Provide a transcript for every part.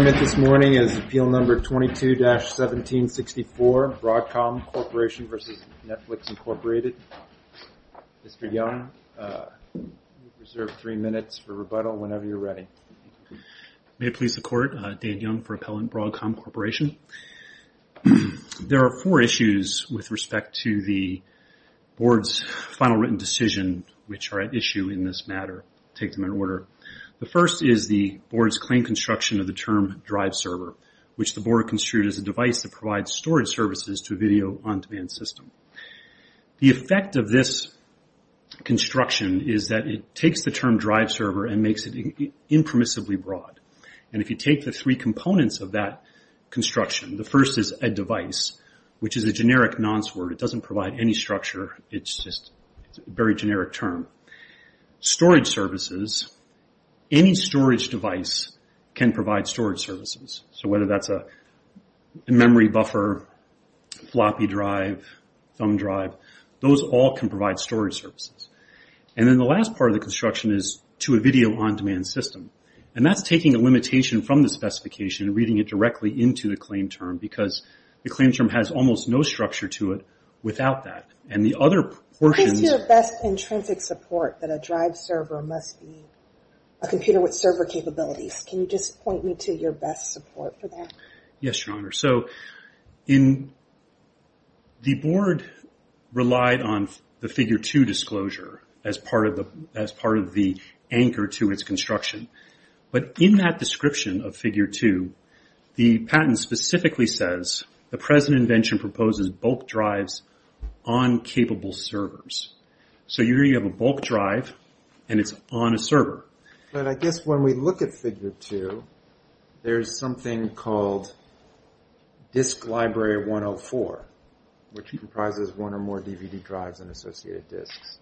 Appeal No. 22-1764 Broadcom Corporation v. Netflix, Inc. Mr. Young, you have three minutes for rebuttal whenever you're ready. May it please the Court, Dan Young for Appellant Broadcom Corporation. There are four issues with respect to the Board's final written decision which are at issue in this matter. The first is the Board's claimed construction of the term DriveServer, which the Board construed as a device that provides storage services to a video-on-demand system. The effect of this construction is that it takes the term DriveServer and makes it impermissibly broad. If you take the three components of that construction, the first is a device, which is a generic nonce word. It doesn't provide any structure. It's just a very generic term. Storage services, any storage device can provide storage services. Whether that's a memory buffer, floppy drive, thumb drive, those all can provide storage services. The last part of the construction is to a video-on-demand system. That's taking a limitation from the specification and reading it directly into the claim term because the claim term has almost no structure to it without that. The other portion... Please do your best intrinsic support that a DriveServer must be a computer with server capabilities. Can you just point me to your best support for that? Yes, Your Honor. The Board relied on the Figure 2 disclosure as part of the anchor to its construction. In that description of Figure 2, the patent specifically says, the present invention proposes bulk drives on capable servers. You have a bulk drive and it's on a server. I guess when we look at Figure 2, there's something called Disk Library 104, which comprises one or more DVD drives and associated disks.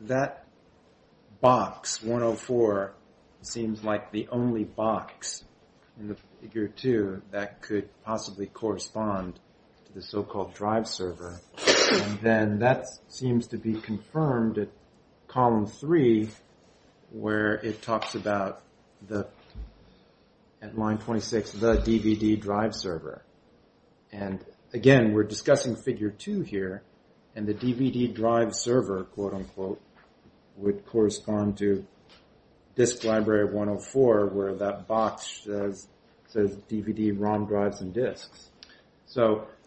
That box, 104, seems like the only box in the Figure 2 that could possibly correspond to the so-called DriveServer. That seems to be confirmed at Column 3 where it talks about, at Line 26, the DVD DriveServer. Again, we're discussing Figure 2 here, and the DVD DriveServer, quote-unquote, would correspond to Disk Library 104, where that box says DVD ROM drives and disks.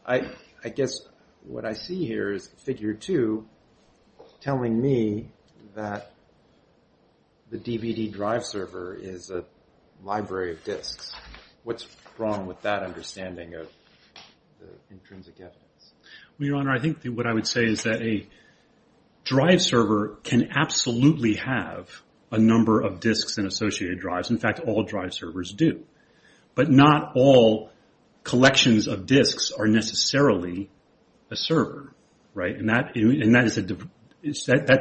I guess what I see here is Figure 2 telling me that the DVD DriveServer is a library of disks. What's wrong with that understanding of the intrinsic evidence? Your Honor, I think what I would say is that a DriveServer can absolutely have a number of disks and associated drives. In fact, all DriveServers do. But not all collections of disks are necessarily a server. That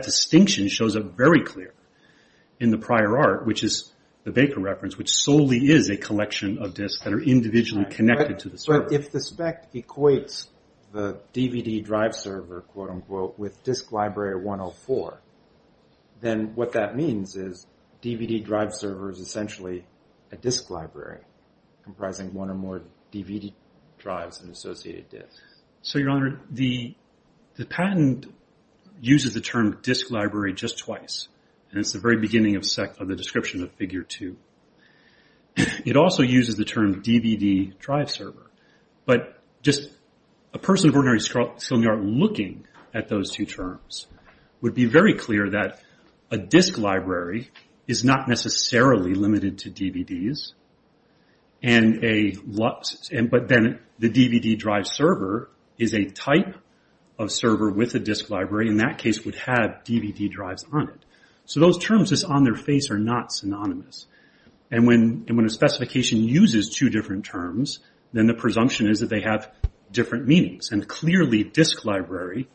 distinction shows up very clear in the prior art, which is the Baker reference, which solely is a collection of disks that are individually connected to the server. But if the spec equates the DVD DriveServer, quote-unquote, with Disk Library 104, then what that means is DVD DriveServer is essentially a disk library comprising one or more DVD drives and associated disks. So, Your Honor, the patent uses the term disk library just twice, and it's the very beginning of the description of Figure 2. It also uses the term DVD DriveServer. But just a person of ordinary skill in the art looking at those two terms would be very clear that a disk library is not necessarily limited to DVDs, but then the DVD DriveServer is a type of server with a disk library. In that case, it would have DVD drives on it. So those terms just on their face are not synonymous. When a specification uses two different terms, then the presumption is that they have different meanings. Clearly, disk library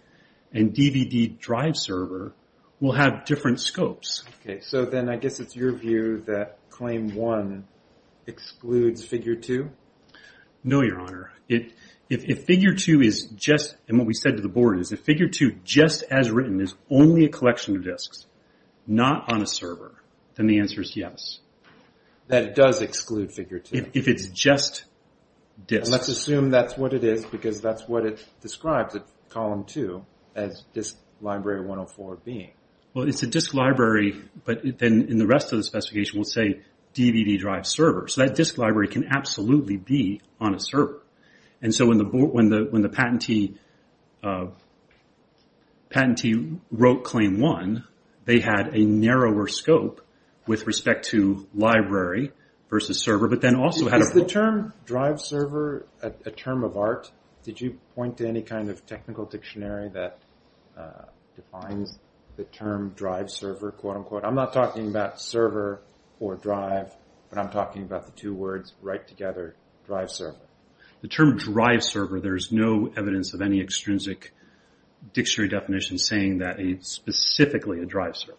and DVD DriveServer will have different scopes. Okay, so then I guess it's your view that Claim 1 excludes Figure 2? No, Your Honor. If Figure 2 is just, and what we said to the board is, if Figure 2, just as written, is only a collection of disks, not on a server, then the answer is yes. That it does exclude Figure 2? If it's just disks. Let's assume that's what it is because that's what it describes at Column 2 as Disk Library 104 being. Well, it's a disk library, but then in the rest of the specification, we'll say DVD DriveServer. So that disk library can absolutely be on a server. And so when the patentee wrote Claim 1, they had a narrower scope with respect to library versus server, but then also had a... Is the term DriveServer a term of art? Did you point to any kind of technical dictionary that defines the term DriveServer? I'm not talking about server or drive, but I'm talking about the two words right together, DriveServer. The term DriveServer, there's no evidence of any extrinsic dictionary definition saying that it's specifically a DriveServer.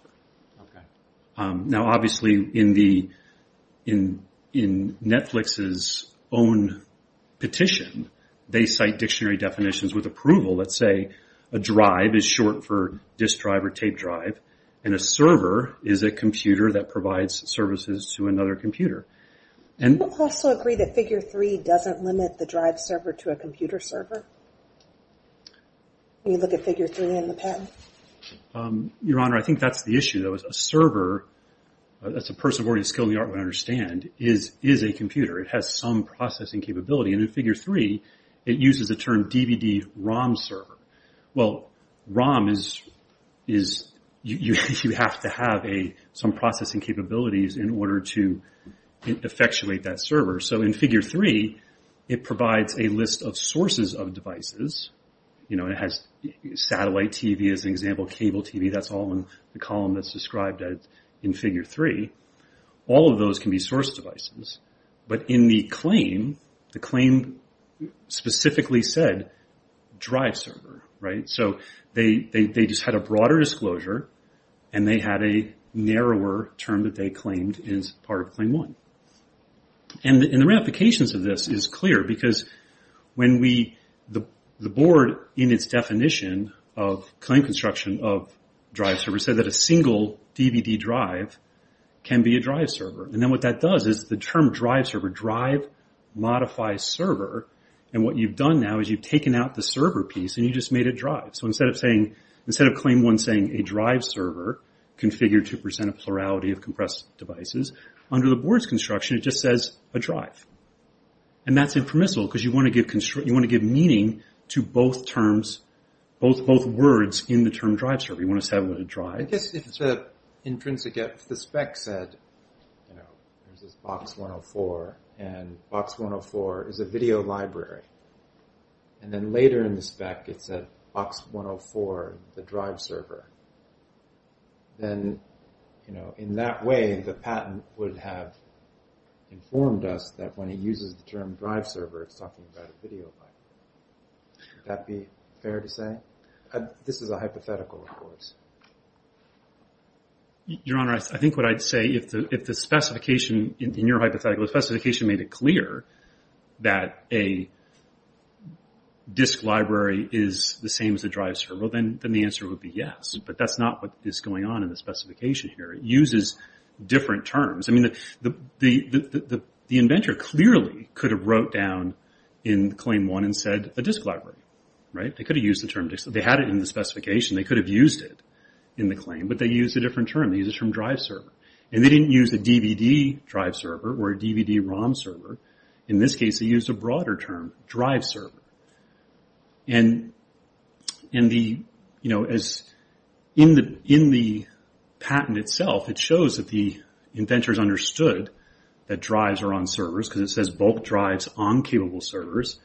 Now obviously in Netflix's own petition, they cite dictionary definitions with approval that say a drive is short for disk drive or tape drive, and a server is a computer that provides services to another computer. Do you also agree that Figure 3 doesn't limit the DriveServer to a computer server? When you look at Figure 3 and the patent? Your Honor, I think that's the issue though. A server, as a person with a skill in the art would understand, is a computer. It has some processing capability. And in Figure 3, it uses the term DVD-ROM server. Well, ROM is... You have to have some processing capabilities in order to effectuate that server. So in Figure 3, it provides a list of sources of devices. It has satellite TV as an example, cable TV. That's all in the column that's described in Figure 3. All of those can be source devices. But in the claim, the claim specifically said DriveServer. So they just had a broader disclosure, and they had a narrower term that they claimed is part of Claim 1. And the ramifications of this is clear, because the board, in its definition of claim construction of DriveServer, said that a single DVD drive can be a DriveServer. And then what that does is the term DriveServer, drive modifies server, and what you've done now is you've taken out the server piece, and you just made it drive. So instead of Claim 1 saying a DriveServer, configure 2% of plurality of compressed devices, under the board's construction, it just says a drive. And that's impermissible, because you want to give meaning to both terms, both words in the term DriveServer. You want to set it with a drive. I guess if the spec said, you know, there's this Box 104, and Box 104 is a video library. And then later in the spec, it said Box 104, the DriveServer. Then, you know, in that way, the patent would have informed us that when it uses the term DriveServer, it's talking about a video library. Would that be fair to say? This is a hypothetical, of course. Your Honor, I think what I'd say, if the specification, in your hypothetical, the specification made it clear that a disk library is the same as a DriveServer, then the answer would be yes. But that's not what is going on in the specification here. It uses different terms. I mean, the inventor clearly could have wrote down in Claim 1 and said a disk library, right? They could have used the term disk. They had it in the specification. They could have used it in the claim. But they used a different term. They used the term DriveServer. And they didn't use a DVD DriveServer or a DVD ROM server. In this case, they used a broader term, DriveServer. And, you know, in the patent itself, it shows that the inventors understood that drives are on servers because it says bulk drives on capable servers.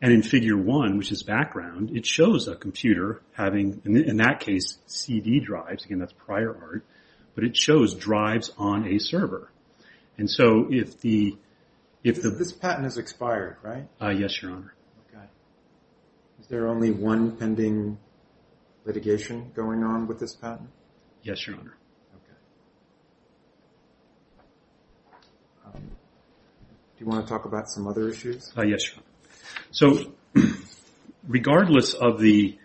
And in Figure 1, which is background, it shows a computer having, in that case, CD drives. Again, that's prior art. But it shows drives on a server. And so if the... This patent is expired, right? Yes, Your Honor. Okay. Is there only one pending litigation going on with this patent? Yes, Your Honor. Okay. Do you want to talk about some other issues? Yes, Your Honor. So regardless of the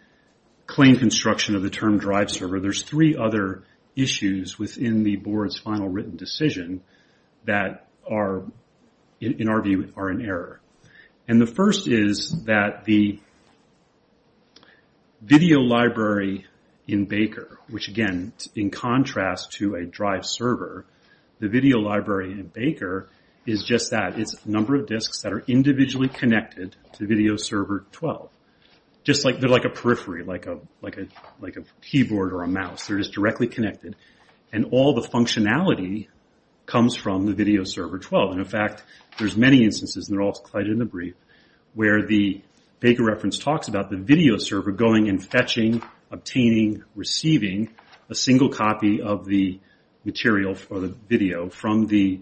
claim construction of the term DriveServer, there's three other issues within the board's final written decision that are, in our view, are in error. And the first is that the video library in Baker, which, again, in contrast to a DriveServer, the video library in Baker is just that. It's the number of disks that are individually connected to VideoServer 12. Just like they're like a periphery, like a keyboard or a mouse. They're just directly connected. And all the functionality comes from the VideoServer 12. And, in fact, there's many instances, and they're all cited in the brief, where the Baker reference talks about the VideoServer going and fetching, obtaining, receiving a single copy of the material or the video from the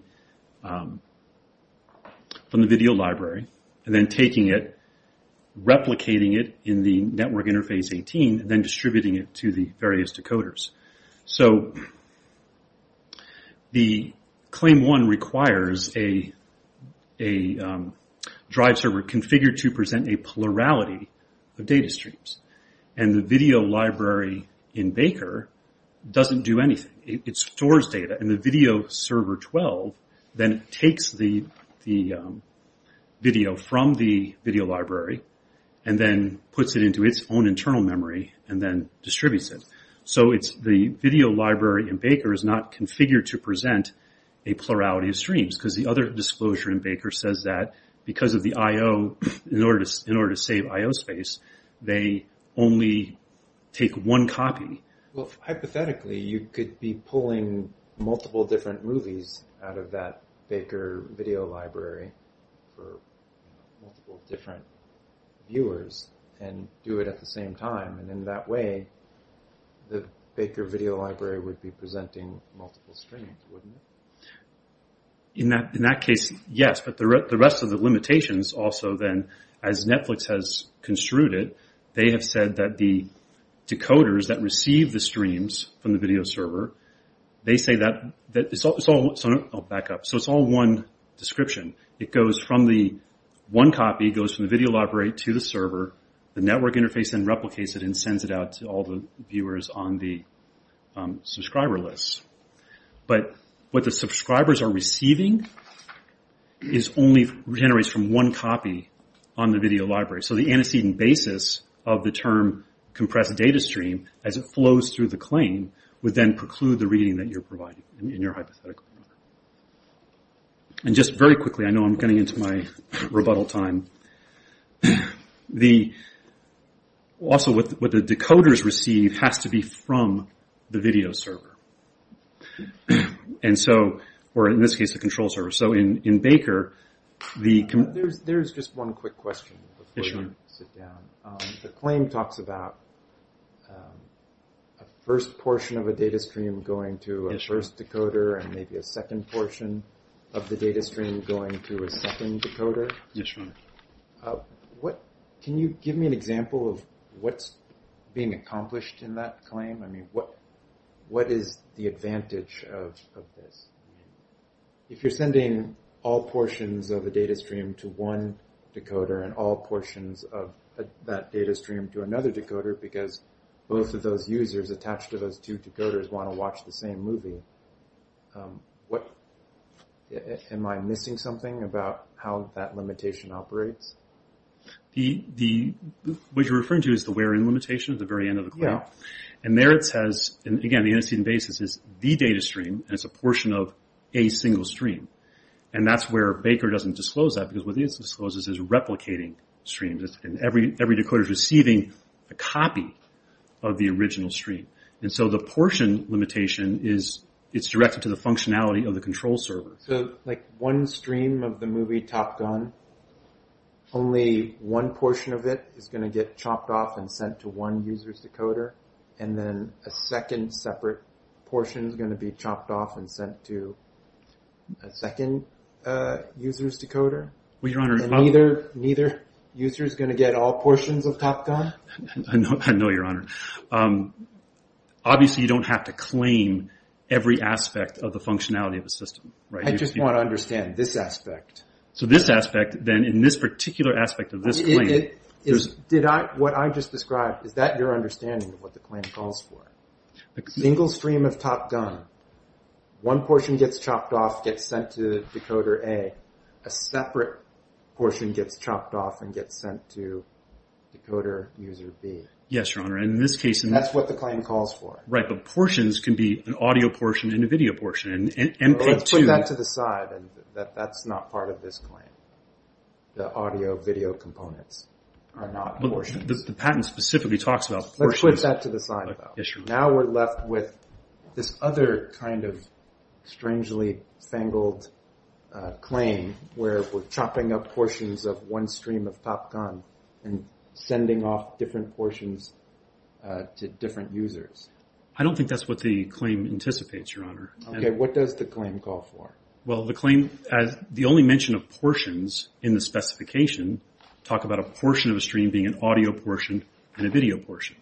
video library, and then taking it, replicating it in the network interface 18, and then distributing it to the various decoders. So the claim one requires a DriveServer configured to present a plurality of data streams. And the video library in Baker doesn't do anything. It stores data. And the VideoServer 12 then takes the video from the video library and then puts it into its own internal memory and then distributes it. So the video library in Baker is not configured to present a plurality of streams because the other disclosure in Baker says that because of the I.O., in order to save I.O. space, they only take one copy. Well, hypothetically, you could be pulling multiple different movies out of that Baker video library for multiple different viewers and do it at the same time. And in that way, the Baker video library would be presenting multiple streams, wouldn't it? In that case, yes. But the rest of the limitations also then, as Netflix has construed it, they have said that the decoders that receive the streams from the VideoServer, they say that it's all one description. It goes from the one copy, it goes from the video library to the server. The network interface then replicates it and sends it out to all the viewers on the subscriber list. But what the subscribers are receiving is only generated from one copy on the video library. So the antecedent basis of the term compressed data stream, as it flows through the claim, would then preclude the reading that you're providing in your hypothetical. And just very quickly, I know I'm getting into my rebuttal time, but also what the decoders receive has to be from the VideoServer. And so, or in this case, the control server. So in Baker, the... There's just one quick question before you sit down. The claim talks about a first portion of a data stream going to a first decoder and maybe a second portion of the data stream going to a second decoder. Yes, sir. Can you give me an example of what's being accomplished in that claim? I mean, what is the advantage of this? If you're sending all portions of a data stream to one decoder and all portions of that data stream to another decoder because both of those users attached to those two decoders want to watch the same movie, am I missing something about how that limitation operates? What you're referring to is the wear-in limitation at the very end of the claim. And there it says, again, the antecedent basis is the data stream and it's a portion of a single stream. And that's where Baker doesn't disclose that because what he discloses is replicating streams. Every decoder is receiving a copy of the original stream. And so the portion limitation is directed to the functionality of the control server. So, like, one stream of the movie Top Gun, only one portion of it is going to get chopped off and sent to one user's decoder and then a second separate portion is going to be chopped off and sent to a second user's decoder? I know, Your Honor. Obviously, you don't have to claim every aspect of the functionality of the system. I just want to understand this aspect. So this aspect, then, in this particular aspect of this claim... What I just described, is that your understanding of what the claim calls for? A single stream of Top Gun, one portion gets chopped off, gets sent to decoder A, and then a separate portion gets chopped off and gets sent to decoder user B. Yes, Your Honor. That's what the claim calls for. Right, but portions can be an audio portion and a video portion. Let's put that to the side. That's not part of this claim. The audio-video components are not portions. The patent specifically talks about portions. Let's put that to the side, though. Now we're left with this other kind of strangely fangled claim where we're chopping up portions of one stream of Top Gun and sending off different portions to different users. I don't think that's what the claim anticipates, Your Honor. Okay, what does the claim call for? Well, the claim, the only mention of portions in the specification talk about a portion of a stream being an audio portion and a video portion.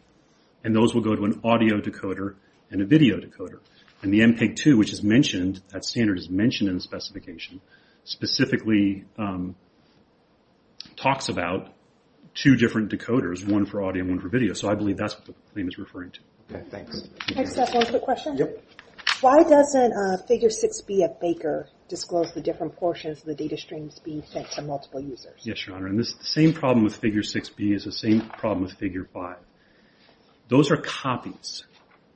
And those will go to an audio decoder and a video decoder. And the MPEG-2, which is mentioned, that standard is mentioned in the specification, specifically talks about two different decoders, one for audio and one for video. So I believe that's what the claim is referring to. Okay, thanks. Can I just ask one quick question? Yep. Why doesn't Figure 6B of Baker disclose the different portions of the data streams being sent to multiple users? Yes, Your Honor. And the same problem with Figure 6B is the same problem with Figure 5. Those are copies.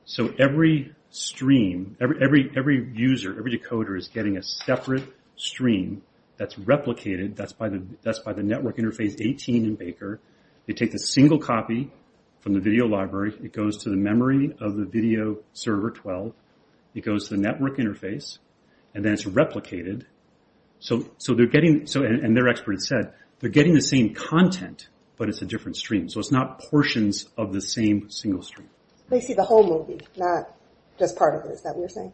So every stream, every user, every decoder is getting a separate stream that's replicated, that's by the network interface 18 in Baker. They take the single copy from the video library. It goes to the memory of the video server 12. It goes to the network interface. And then it's replicated. And their expert has said they're getting the same content, but it's a different stream. So it's not portions of the same single stream. They see the whole movie, not just part of it. Is that what you're saying?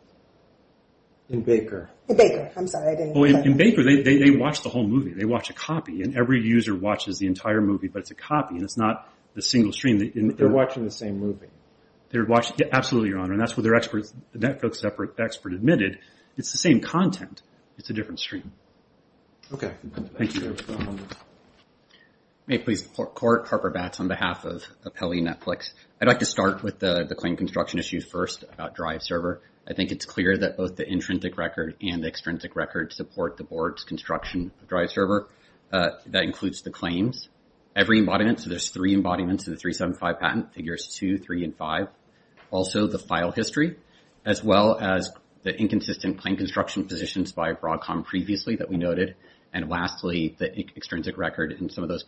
In Baker. In Baker. I'm sorry, I didn't hear that. In Baker, they watch the whole movie. They watch a copy. And every user watches the entire movie, but it's a copy, and it's not the single stream. They're watching the same movie. Absolutely, Your Honor. And that's what their network expert admitted. It's the same content. It's a different stream. Okay. Thank you, Your Honor. May it please the Court. Harper Batts on behalf of Apelli Netflix. I'd like to start with the claim construction issues first, about DriveServer. I think it's clear that both the intrinsic record and the extrinsic record support the board's construction of DriveServer. That includes the claims, every embodiment. So there's three embodiments of the 375 patent, figures 2, 3, and 5. Also, the file history, as well as the inconsistent claim construction positions by Broadcom previously that we noted. And lastly, the extrinsic record and some of those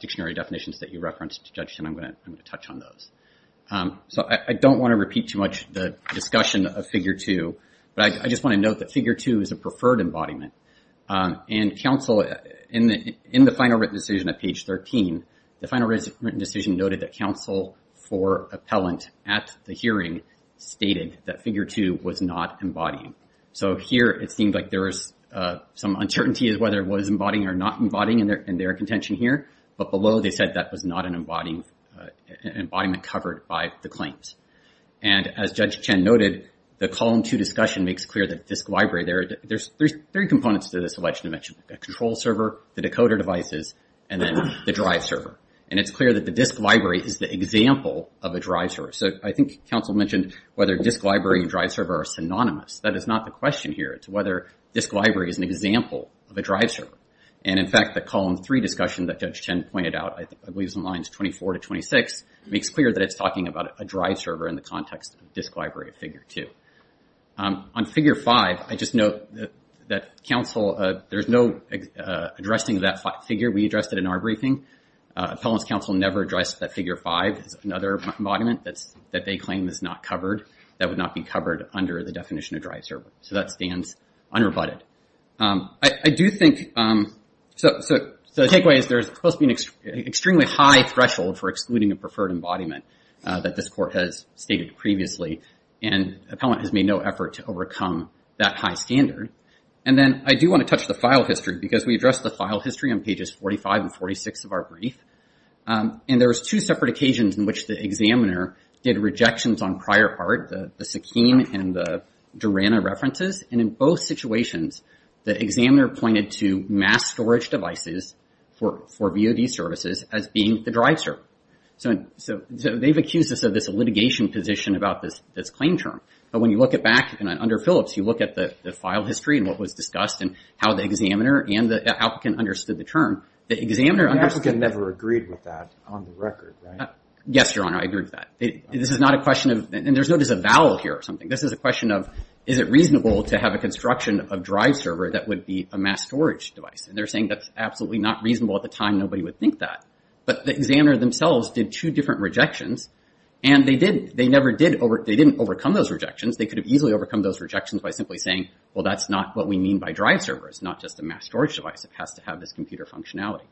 dictionary definitions that you referenced, Judge Chin, I'm going to touch on those. So I don't want to repeat too much the discussion of figure 2, but I just want to note that figure 2 is a preferred embodiment. And counsel, in the final written decision at page 13, the final written decision noted that counsel for appellant at the hearing stated that figure 2 was not embodying. So here, it seems like there is some uncertainty as to whether it was embodying or not embodying in their contention here. But below, they said that was not an embodiment covered by the claims. And as Judge Chin noted, the column 2 discussion makes clear that disk library, there's three components to this alleged invention. The control server, the decoder devices, and then the DriveServer. And it's clear that the disk library is the example of a DriveServer. So I think counsel mentioned whether disk library and DriveServer are synonymous. That is not the question here. It's whether disk library is an example of a DriveServer. And in fact, the column 3 discussion that Judge Chin pointed out, I believe it's in lines 24 to 26, makes clear that it's talking about a DriveServer in the context of disk library figure 2. On figure 5, I just note that counsel, there's no addressing that figure. We addressed it in our briefing. Appellant's counsel never addressed that figure 5 as another embodiment that they claim is not covered, that would not be covered under the definition of DriveServer. So that stands unrebutted. I do think... So the takeaway is there's supposed to be an extremely high threshold for excluding a preferred embodiment that this court has stated previously. And appellant has made no effort to overcome that high standard. And then I do want to touch the file history because we addressed the file history on pages 45 and 46 of our brief. And there was two separate occasions in which the examiner did rejections on prior part, the Sakeen and the Durana references. And in both situations, the examiner pointed to mass storage devices for VOD services as being the DriveServer. So they've accused us of this litigation position about this claim term. But when you look it back, and under Phillips, you look at the file history and what was discussed and how the examiner and the applicant understood the term. The examiner understood... The applicant never agreed with that on the record, right? Yes, Your Honor, I agree with that. This is not a question of... And there's not just a vowel here or something. This is a question of, is it reasonable to have a construction of DriveServer that would be a mass storage device? And they're saying that's absolutely not reasonable at the time nobody would think that. But the examiner themselves did two different rejections. And they did... They never did... They didn't overcome those rejections. They could have easily overcome those rejections by simply saying, well, that's not what we mean by DriveServer. It's not just a mass storage device. It has to have this computer functionality.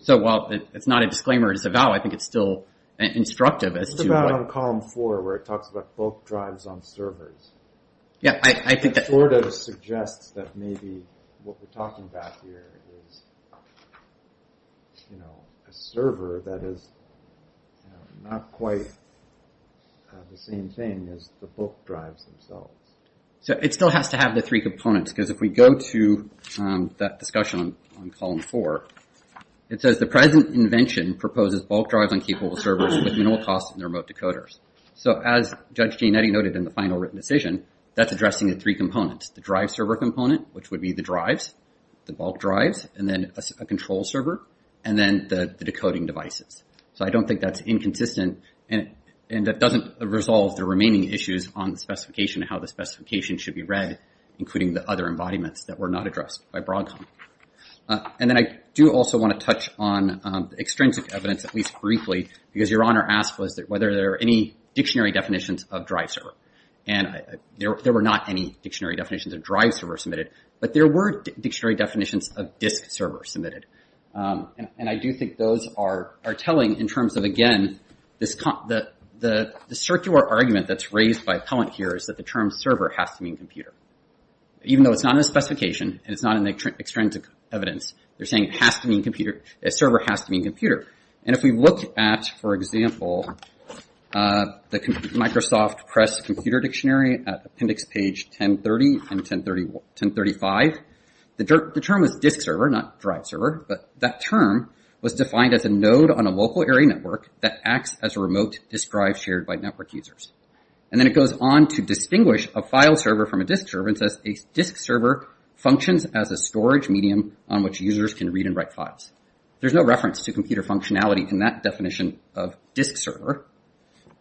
So while it's not a disclaimer, it's a vowel, I think it's still instructive as to what... It's a vowel on column four where it talks about bulk drives on servers. Yeah, I think that... It sort of suggests that maybe what we're talking about here is, you know, a server that is not quite the same thing as the bulk drives themselves. So it still has to have the three components because if we go to that discussion on column four, it says the present invention proposes bulk drives on capable servers with minimal cost in the remote decoders. So as Judge Gianetti noted in the final written decision, that's addressing the three components. The DriveServer component, which would be the drives, the bulk drives, and then a control server, and then the decoding devices. So I don't think that's inconsistent and that doesn't resolve the remaining issues on the specification and how the specification should be read, including the other embodiments that were not addressed by Broadcom. And then I do also want to touch on the extrinsic evidence, at least briefly, because Your Honor asked whether there are any dictionary definitions of DriveServer. And there were not any dictionary definitions of DriveServer submitted, but there were dictionary definitions of disk server submitted. And I do think those are telling in terms of, again, the circular argument that's raised by Appellant here is that the term server has to mean computer. Even though it's not in the specification and it's not in the extrinsic evidence, they're saying it has to mean computer, a server has to mean computer. And if we look at, for example, the Microsoft Press Computer Dictionary at appendix page 1030 and 1035, the term is disk server, not drive server, but that term was defined as a node on a local area network that acts as a remote disk drive shared by network users. And then it goes on to distinguish a file server from a disk server and says a disk server functions as a storage medium on which users can read and write files. There's no reference to computer functionality in that definition of disk server.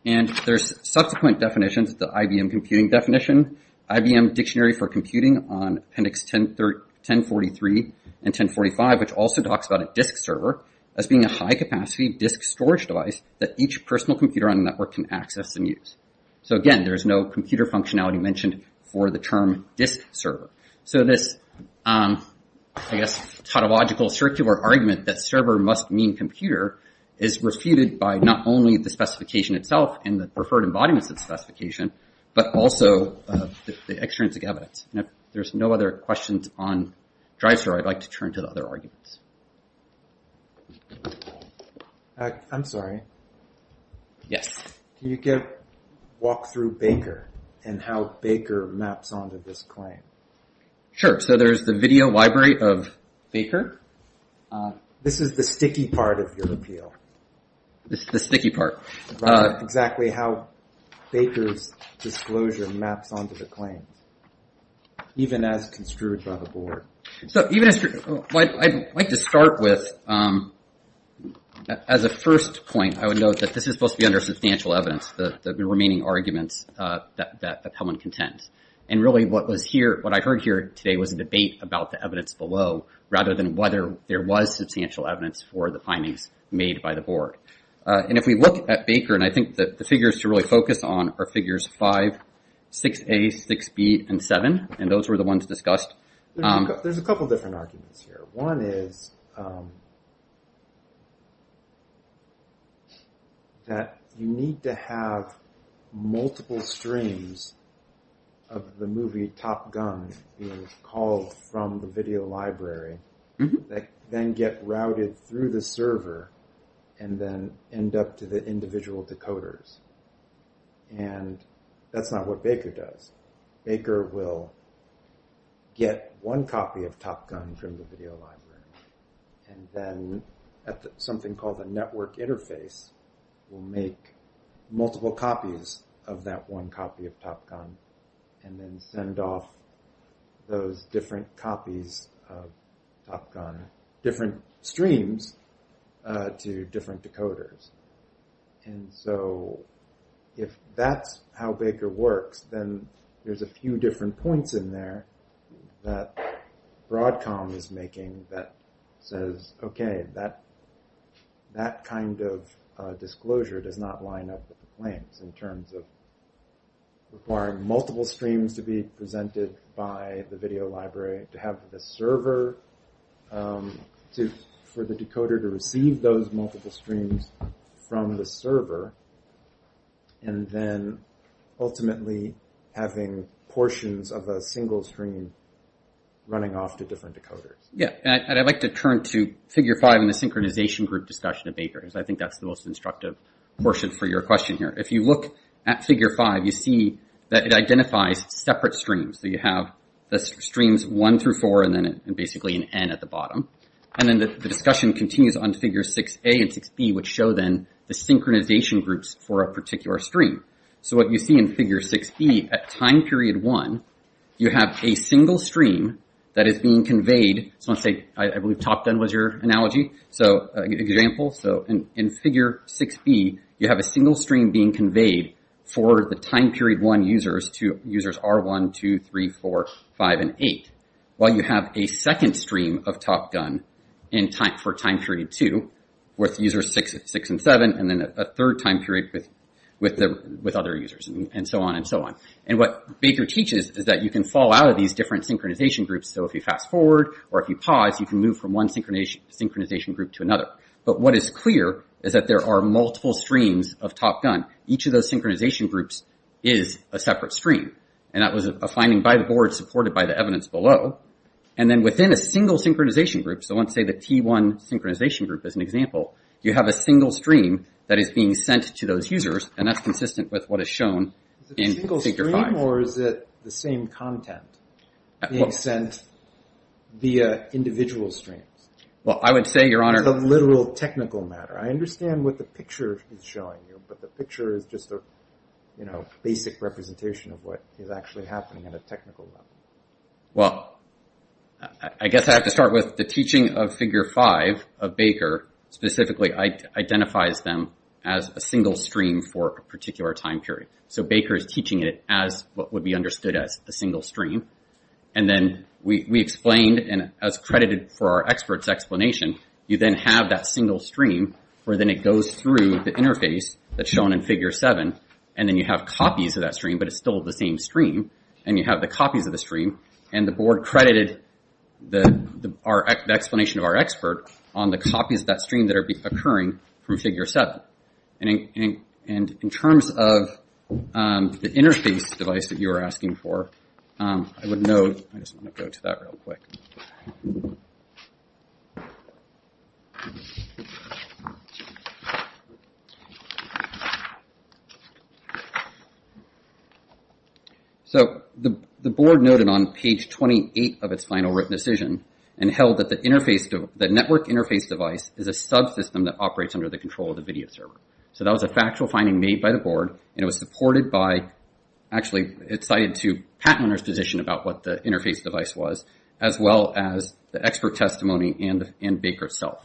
And there's subsequent definitions, the IBM Computing Definition, IBM Dictionary for Computing on appendix 1043 and 1045, which also talks about a disk server as being a high-capacity disk storage device that each personal computer on a network can access and use. So again, there's no computer functionality mentioned for the term disk server. So this, I guess, tautological circular argument that server must mean computer is refuted by not only the specification itself and the referred embodiments of the specification, but also the extrinsic evidence. And if there's no other questions on drive server, I'd like to turn to the other arguments. I'm sorry. Yes. Can you walk through Baker and how Baker maps onto this claim? Sure. So there's the video library of Baker. This is the sticky part of your appeal. This is the sticky part. Exactly how Baker's disclosure maps onto the claim, even as construed by the board. I'd like to start with, as a first point, I would note that this is supposed to be under substantial evidence, the remaining arguments that Hellman contends. And really what I heard here today was a debate about the evidence below rather than whether there was substantial evidence for the findings made by the board. And if we look at Baker, and I think that the figures to really focus on are figures 5, 6A, 6B, and 7, and those were the ones discussed. There's a couple different arguments here. One is that you need to have multiple streams of the movie Top Gun being called from the video library that then get routed through the server and then end up to the individual decoders. And that's not what Baker does. Baker will get one copy of Top Gun from the video library and then at something called a network interface will make multiple copies of that one copy of Top Gun and then send off those different copies of Top Gun, different streams, to different decoders. And so if that's how Baker works, then there's a few different points in there that Broadcom is making that says, okay, that kind of disclosure does not line up with the claims in terms of requiring multiple streams to be presented by the video library to have the server for the decoder to receive those multiple streams from the server and then ultimately having portions of a single stream running off to different decoders. Yeah, and I'd like to turn to figure five in the synchronization group discussion of Baker because I think that's the most instructive portion for your question here. If you look at figure five, you see that it identifies separate streams. So you have the streams one through four and then basically an N at the bottom. And then the discussion continues on figure 6A and 6B which show then the synchronization groups for a particular stream. So what you see in figure 6B, at time period one, you have a single stream that is being conveyed. So let's say, I believe Top Gun was your analogy. So an example. So in figure 6B, you have a single stream being conveyed for the time period one users, to users R1, 2, 3, 4, 5, and 8. While you have a second stream of Top Gun for time period two with users six and seven and then a third time period with other users and so on and so on. And what Baker teaches is that you can fall out of these different synchronization groups. So if you fast forward or if you pause, you can move from one synchronization group to another. But what is clear is that there are multiple streams of Top Gun. Each of those synchronization groups is a separate stream. And that was a finding by the board supported by the evidence below. And then within a single synchronization group, so let's say the T1 synchronization group is an example, you have a single stream that is being sent to those users and that's consistent with what is shown in figure 5. Is it a single stream or is it the same content being sent via individual streams? Well, I would say, Your Honor. Or is it a literal technical matter? I understand what the picture is showing you, but the picture is just a, you know, basic representation of what is actually happening at a technical level. Well, I guess I have to start with the teaching of figure 5 of Baker specifically identifies them as a single stream for a particular time period. So Baker is teaching it as what would be understood as a single stream. And then we explained, and as credited for our expert's explanation, you then have that single stream where then it goes through the interface that's shown in figure 7 and then you have copies of that stream, but it's still the same stream. And you have the copies of the stream. And the board credited the explanation of our expert on the copies of that stream that are occurring from figure 7. And in terms of the interface device that you were asking for, I would note... I just want to go to that real quick. So the board noted on page 28 of its final written decision and held that the network interface device is a subsystem that operates under the control of the video server. So that was a factual finding made by the board and it was supported by... Actually, it cited to patent owner's position the network interface device is a subsystem that operates under the control of the video server. As well as the expert testimony and Baker itself.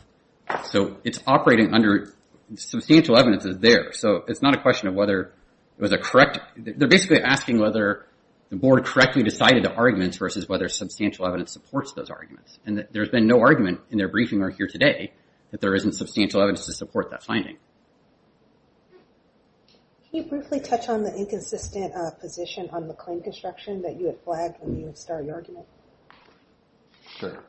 So it's operating under... Substantial evidence is there. So it's not a question of whether it was a correct... They're basically asking whether the board correctly decided the arguments versus whether substantial evidence supports those arguments. And there's been no argument in their briefing or here today that there isn't substantial evidence to support that finding. Can you briefly touch on the inconsistent position on the claim construction that you had flagged when you started your argument? Sure.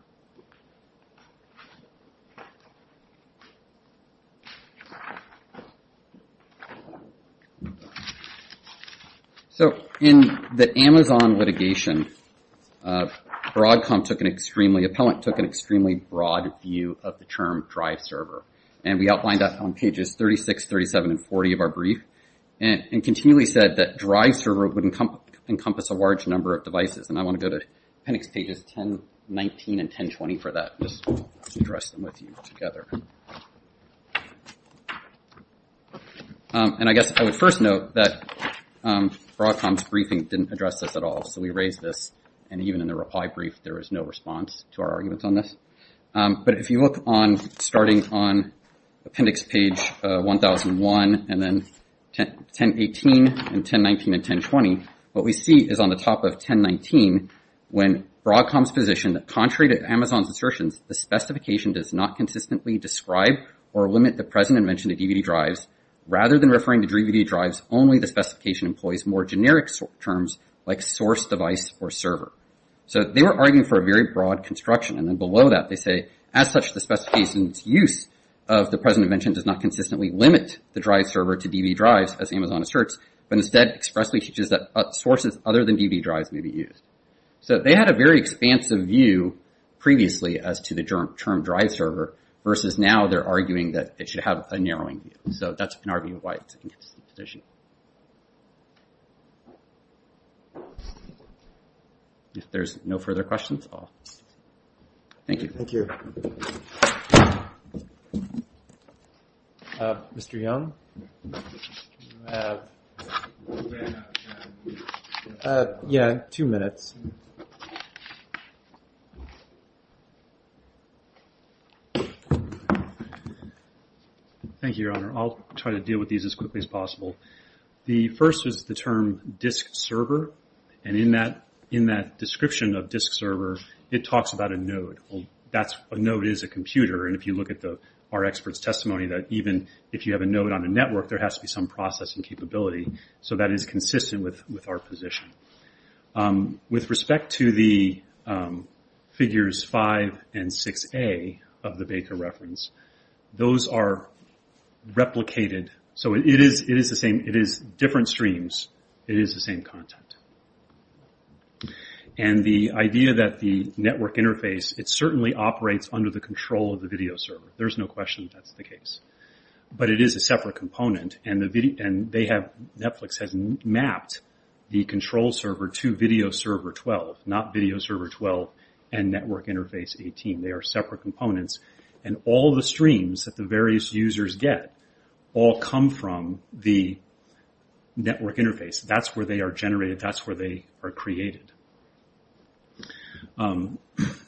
So in the Amazon litigation Broadcom took an extremely... Appellant took an extremely broad view of the term drive server. And we outlined that on pages 36, 37, and 40 of our brief. And continually said that drive server would encompass a large number of devices. And I want to go to appendix pages 10, 19, and 10, 20 for that. Just to address them with you together. And I guess I would first note that Broadcom's briefing didn't address this at all. So we raised this. And even in the reply brief there was no response to our arguments on this. But if you look on starting on appendix page 1001 and then 10, 18 and 10, 19, and 10, 20 what we see is on the top of 10, 19 when Broadcom's position that contrary to Amazon's assertions the specification does not consistently describe or limit the present invention to DVD drives rather than referring to DVD drives only the specification employs more generic terms like source device or server. So they were arguing for a very broad construction. And then below that they say as such the specification's use of the present invention does not consistently limit the drive server to DVD drives as Amazon asserts but instead expressly teaches that sources other than DVD drives may be used. So they had a very expansive view previously as to the term drive server versus now they're arguing that it should have a narrowing view. So that's our view of why it's an inconsistent position. If there's no further questions I'll... Thank you. Thank you. Mr. Young? Yeah, two minutes. Thank you, Your Honor. I'll try to deal with these as quickly as possible. The first is the term disk server and in that description of disk server it talks about a node. A node is a computer and if you look at our expert's testimony that even if you have a node on a network there has to be some processing capability. So that is consistent with our position. With respect to the figures five and six A of the Baker reference those are replicated so it is different streams. It is the same content. And the idea that the network interface it certainly operates under the control of the video server. There's no question that's the case. But it is a separate component and they have Netflix has mapped the control server to video server 12 not video server 12 and network interface 18. They are separate components and all the streams that the various users get all come from the network interface. That's where they are generated. That's where they are created. Netflix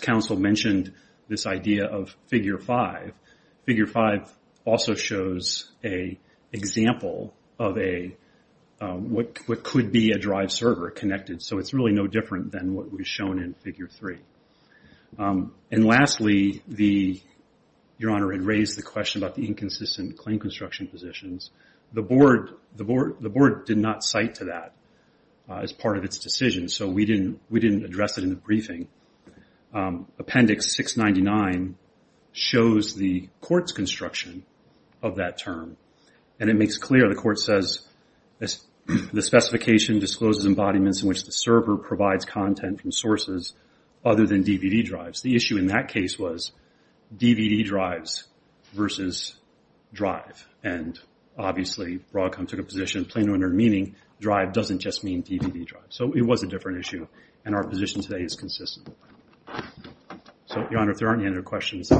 council mentioned this idea of figure five. Figure five also shows an example of a what could be a drive server connected so it's really no different than what was shown in figure three. And lastly the Your Honor had raised the question about the inconsistent claim construction positions. The board did not cite to that as part of its decision. So we didn't address it in the briefing. Appendix 699 shows the court's construction of that term. And it makes clear the court says the specification discloses embodiments in which the server provides content from sources other than DVD drives. The issue in that case was DVD drives versus drive. And obviously Broadcom took a position plainly under meaning drive doesn't just mean DVD drive. So it was a different issue and our position today is consistent. So Your Honor if there aren't any other questions.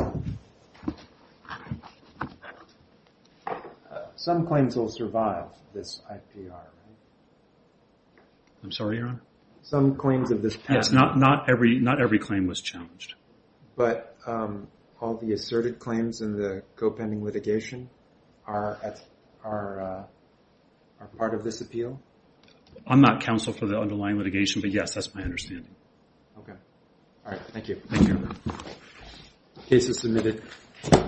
Some claims will survive this IPR. I'm sorry Your Honor? Not every claim was challenged. But all the asserted claims in the co-pending litigation are part of this appeal? I'm not counsel for the underlying litigation but yes that's my understanding. Thank you. Case is submitted.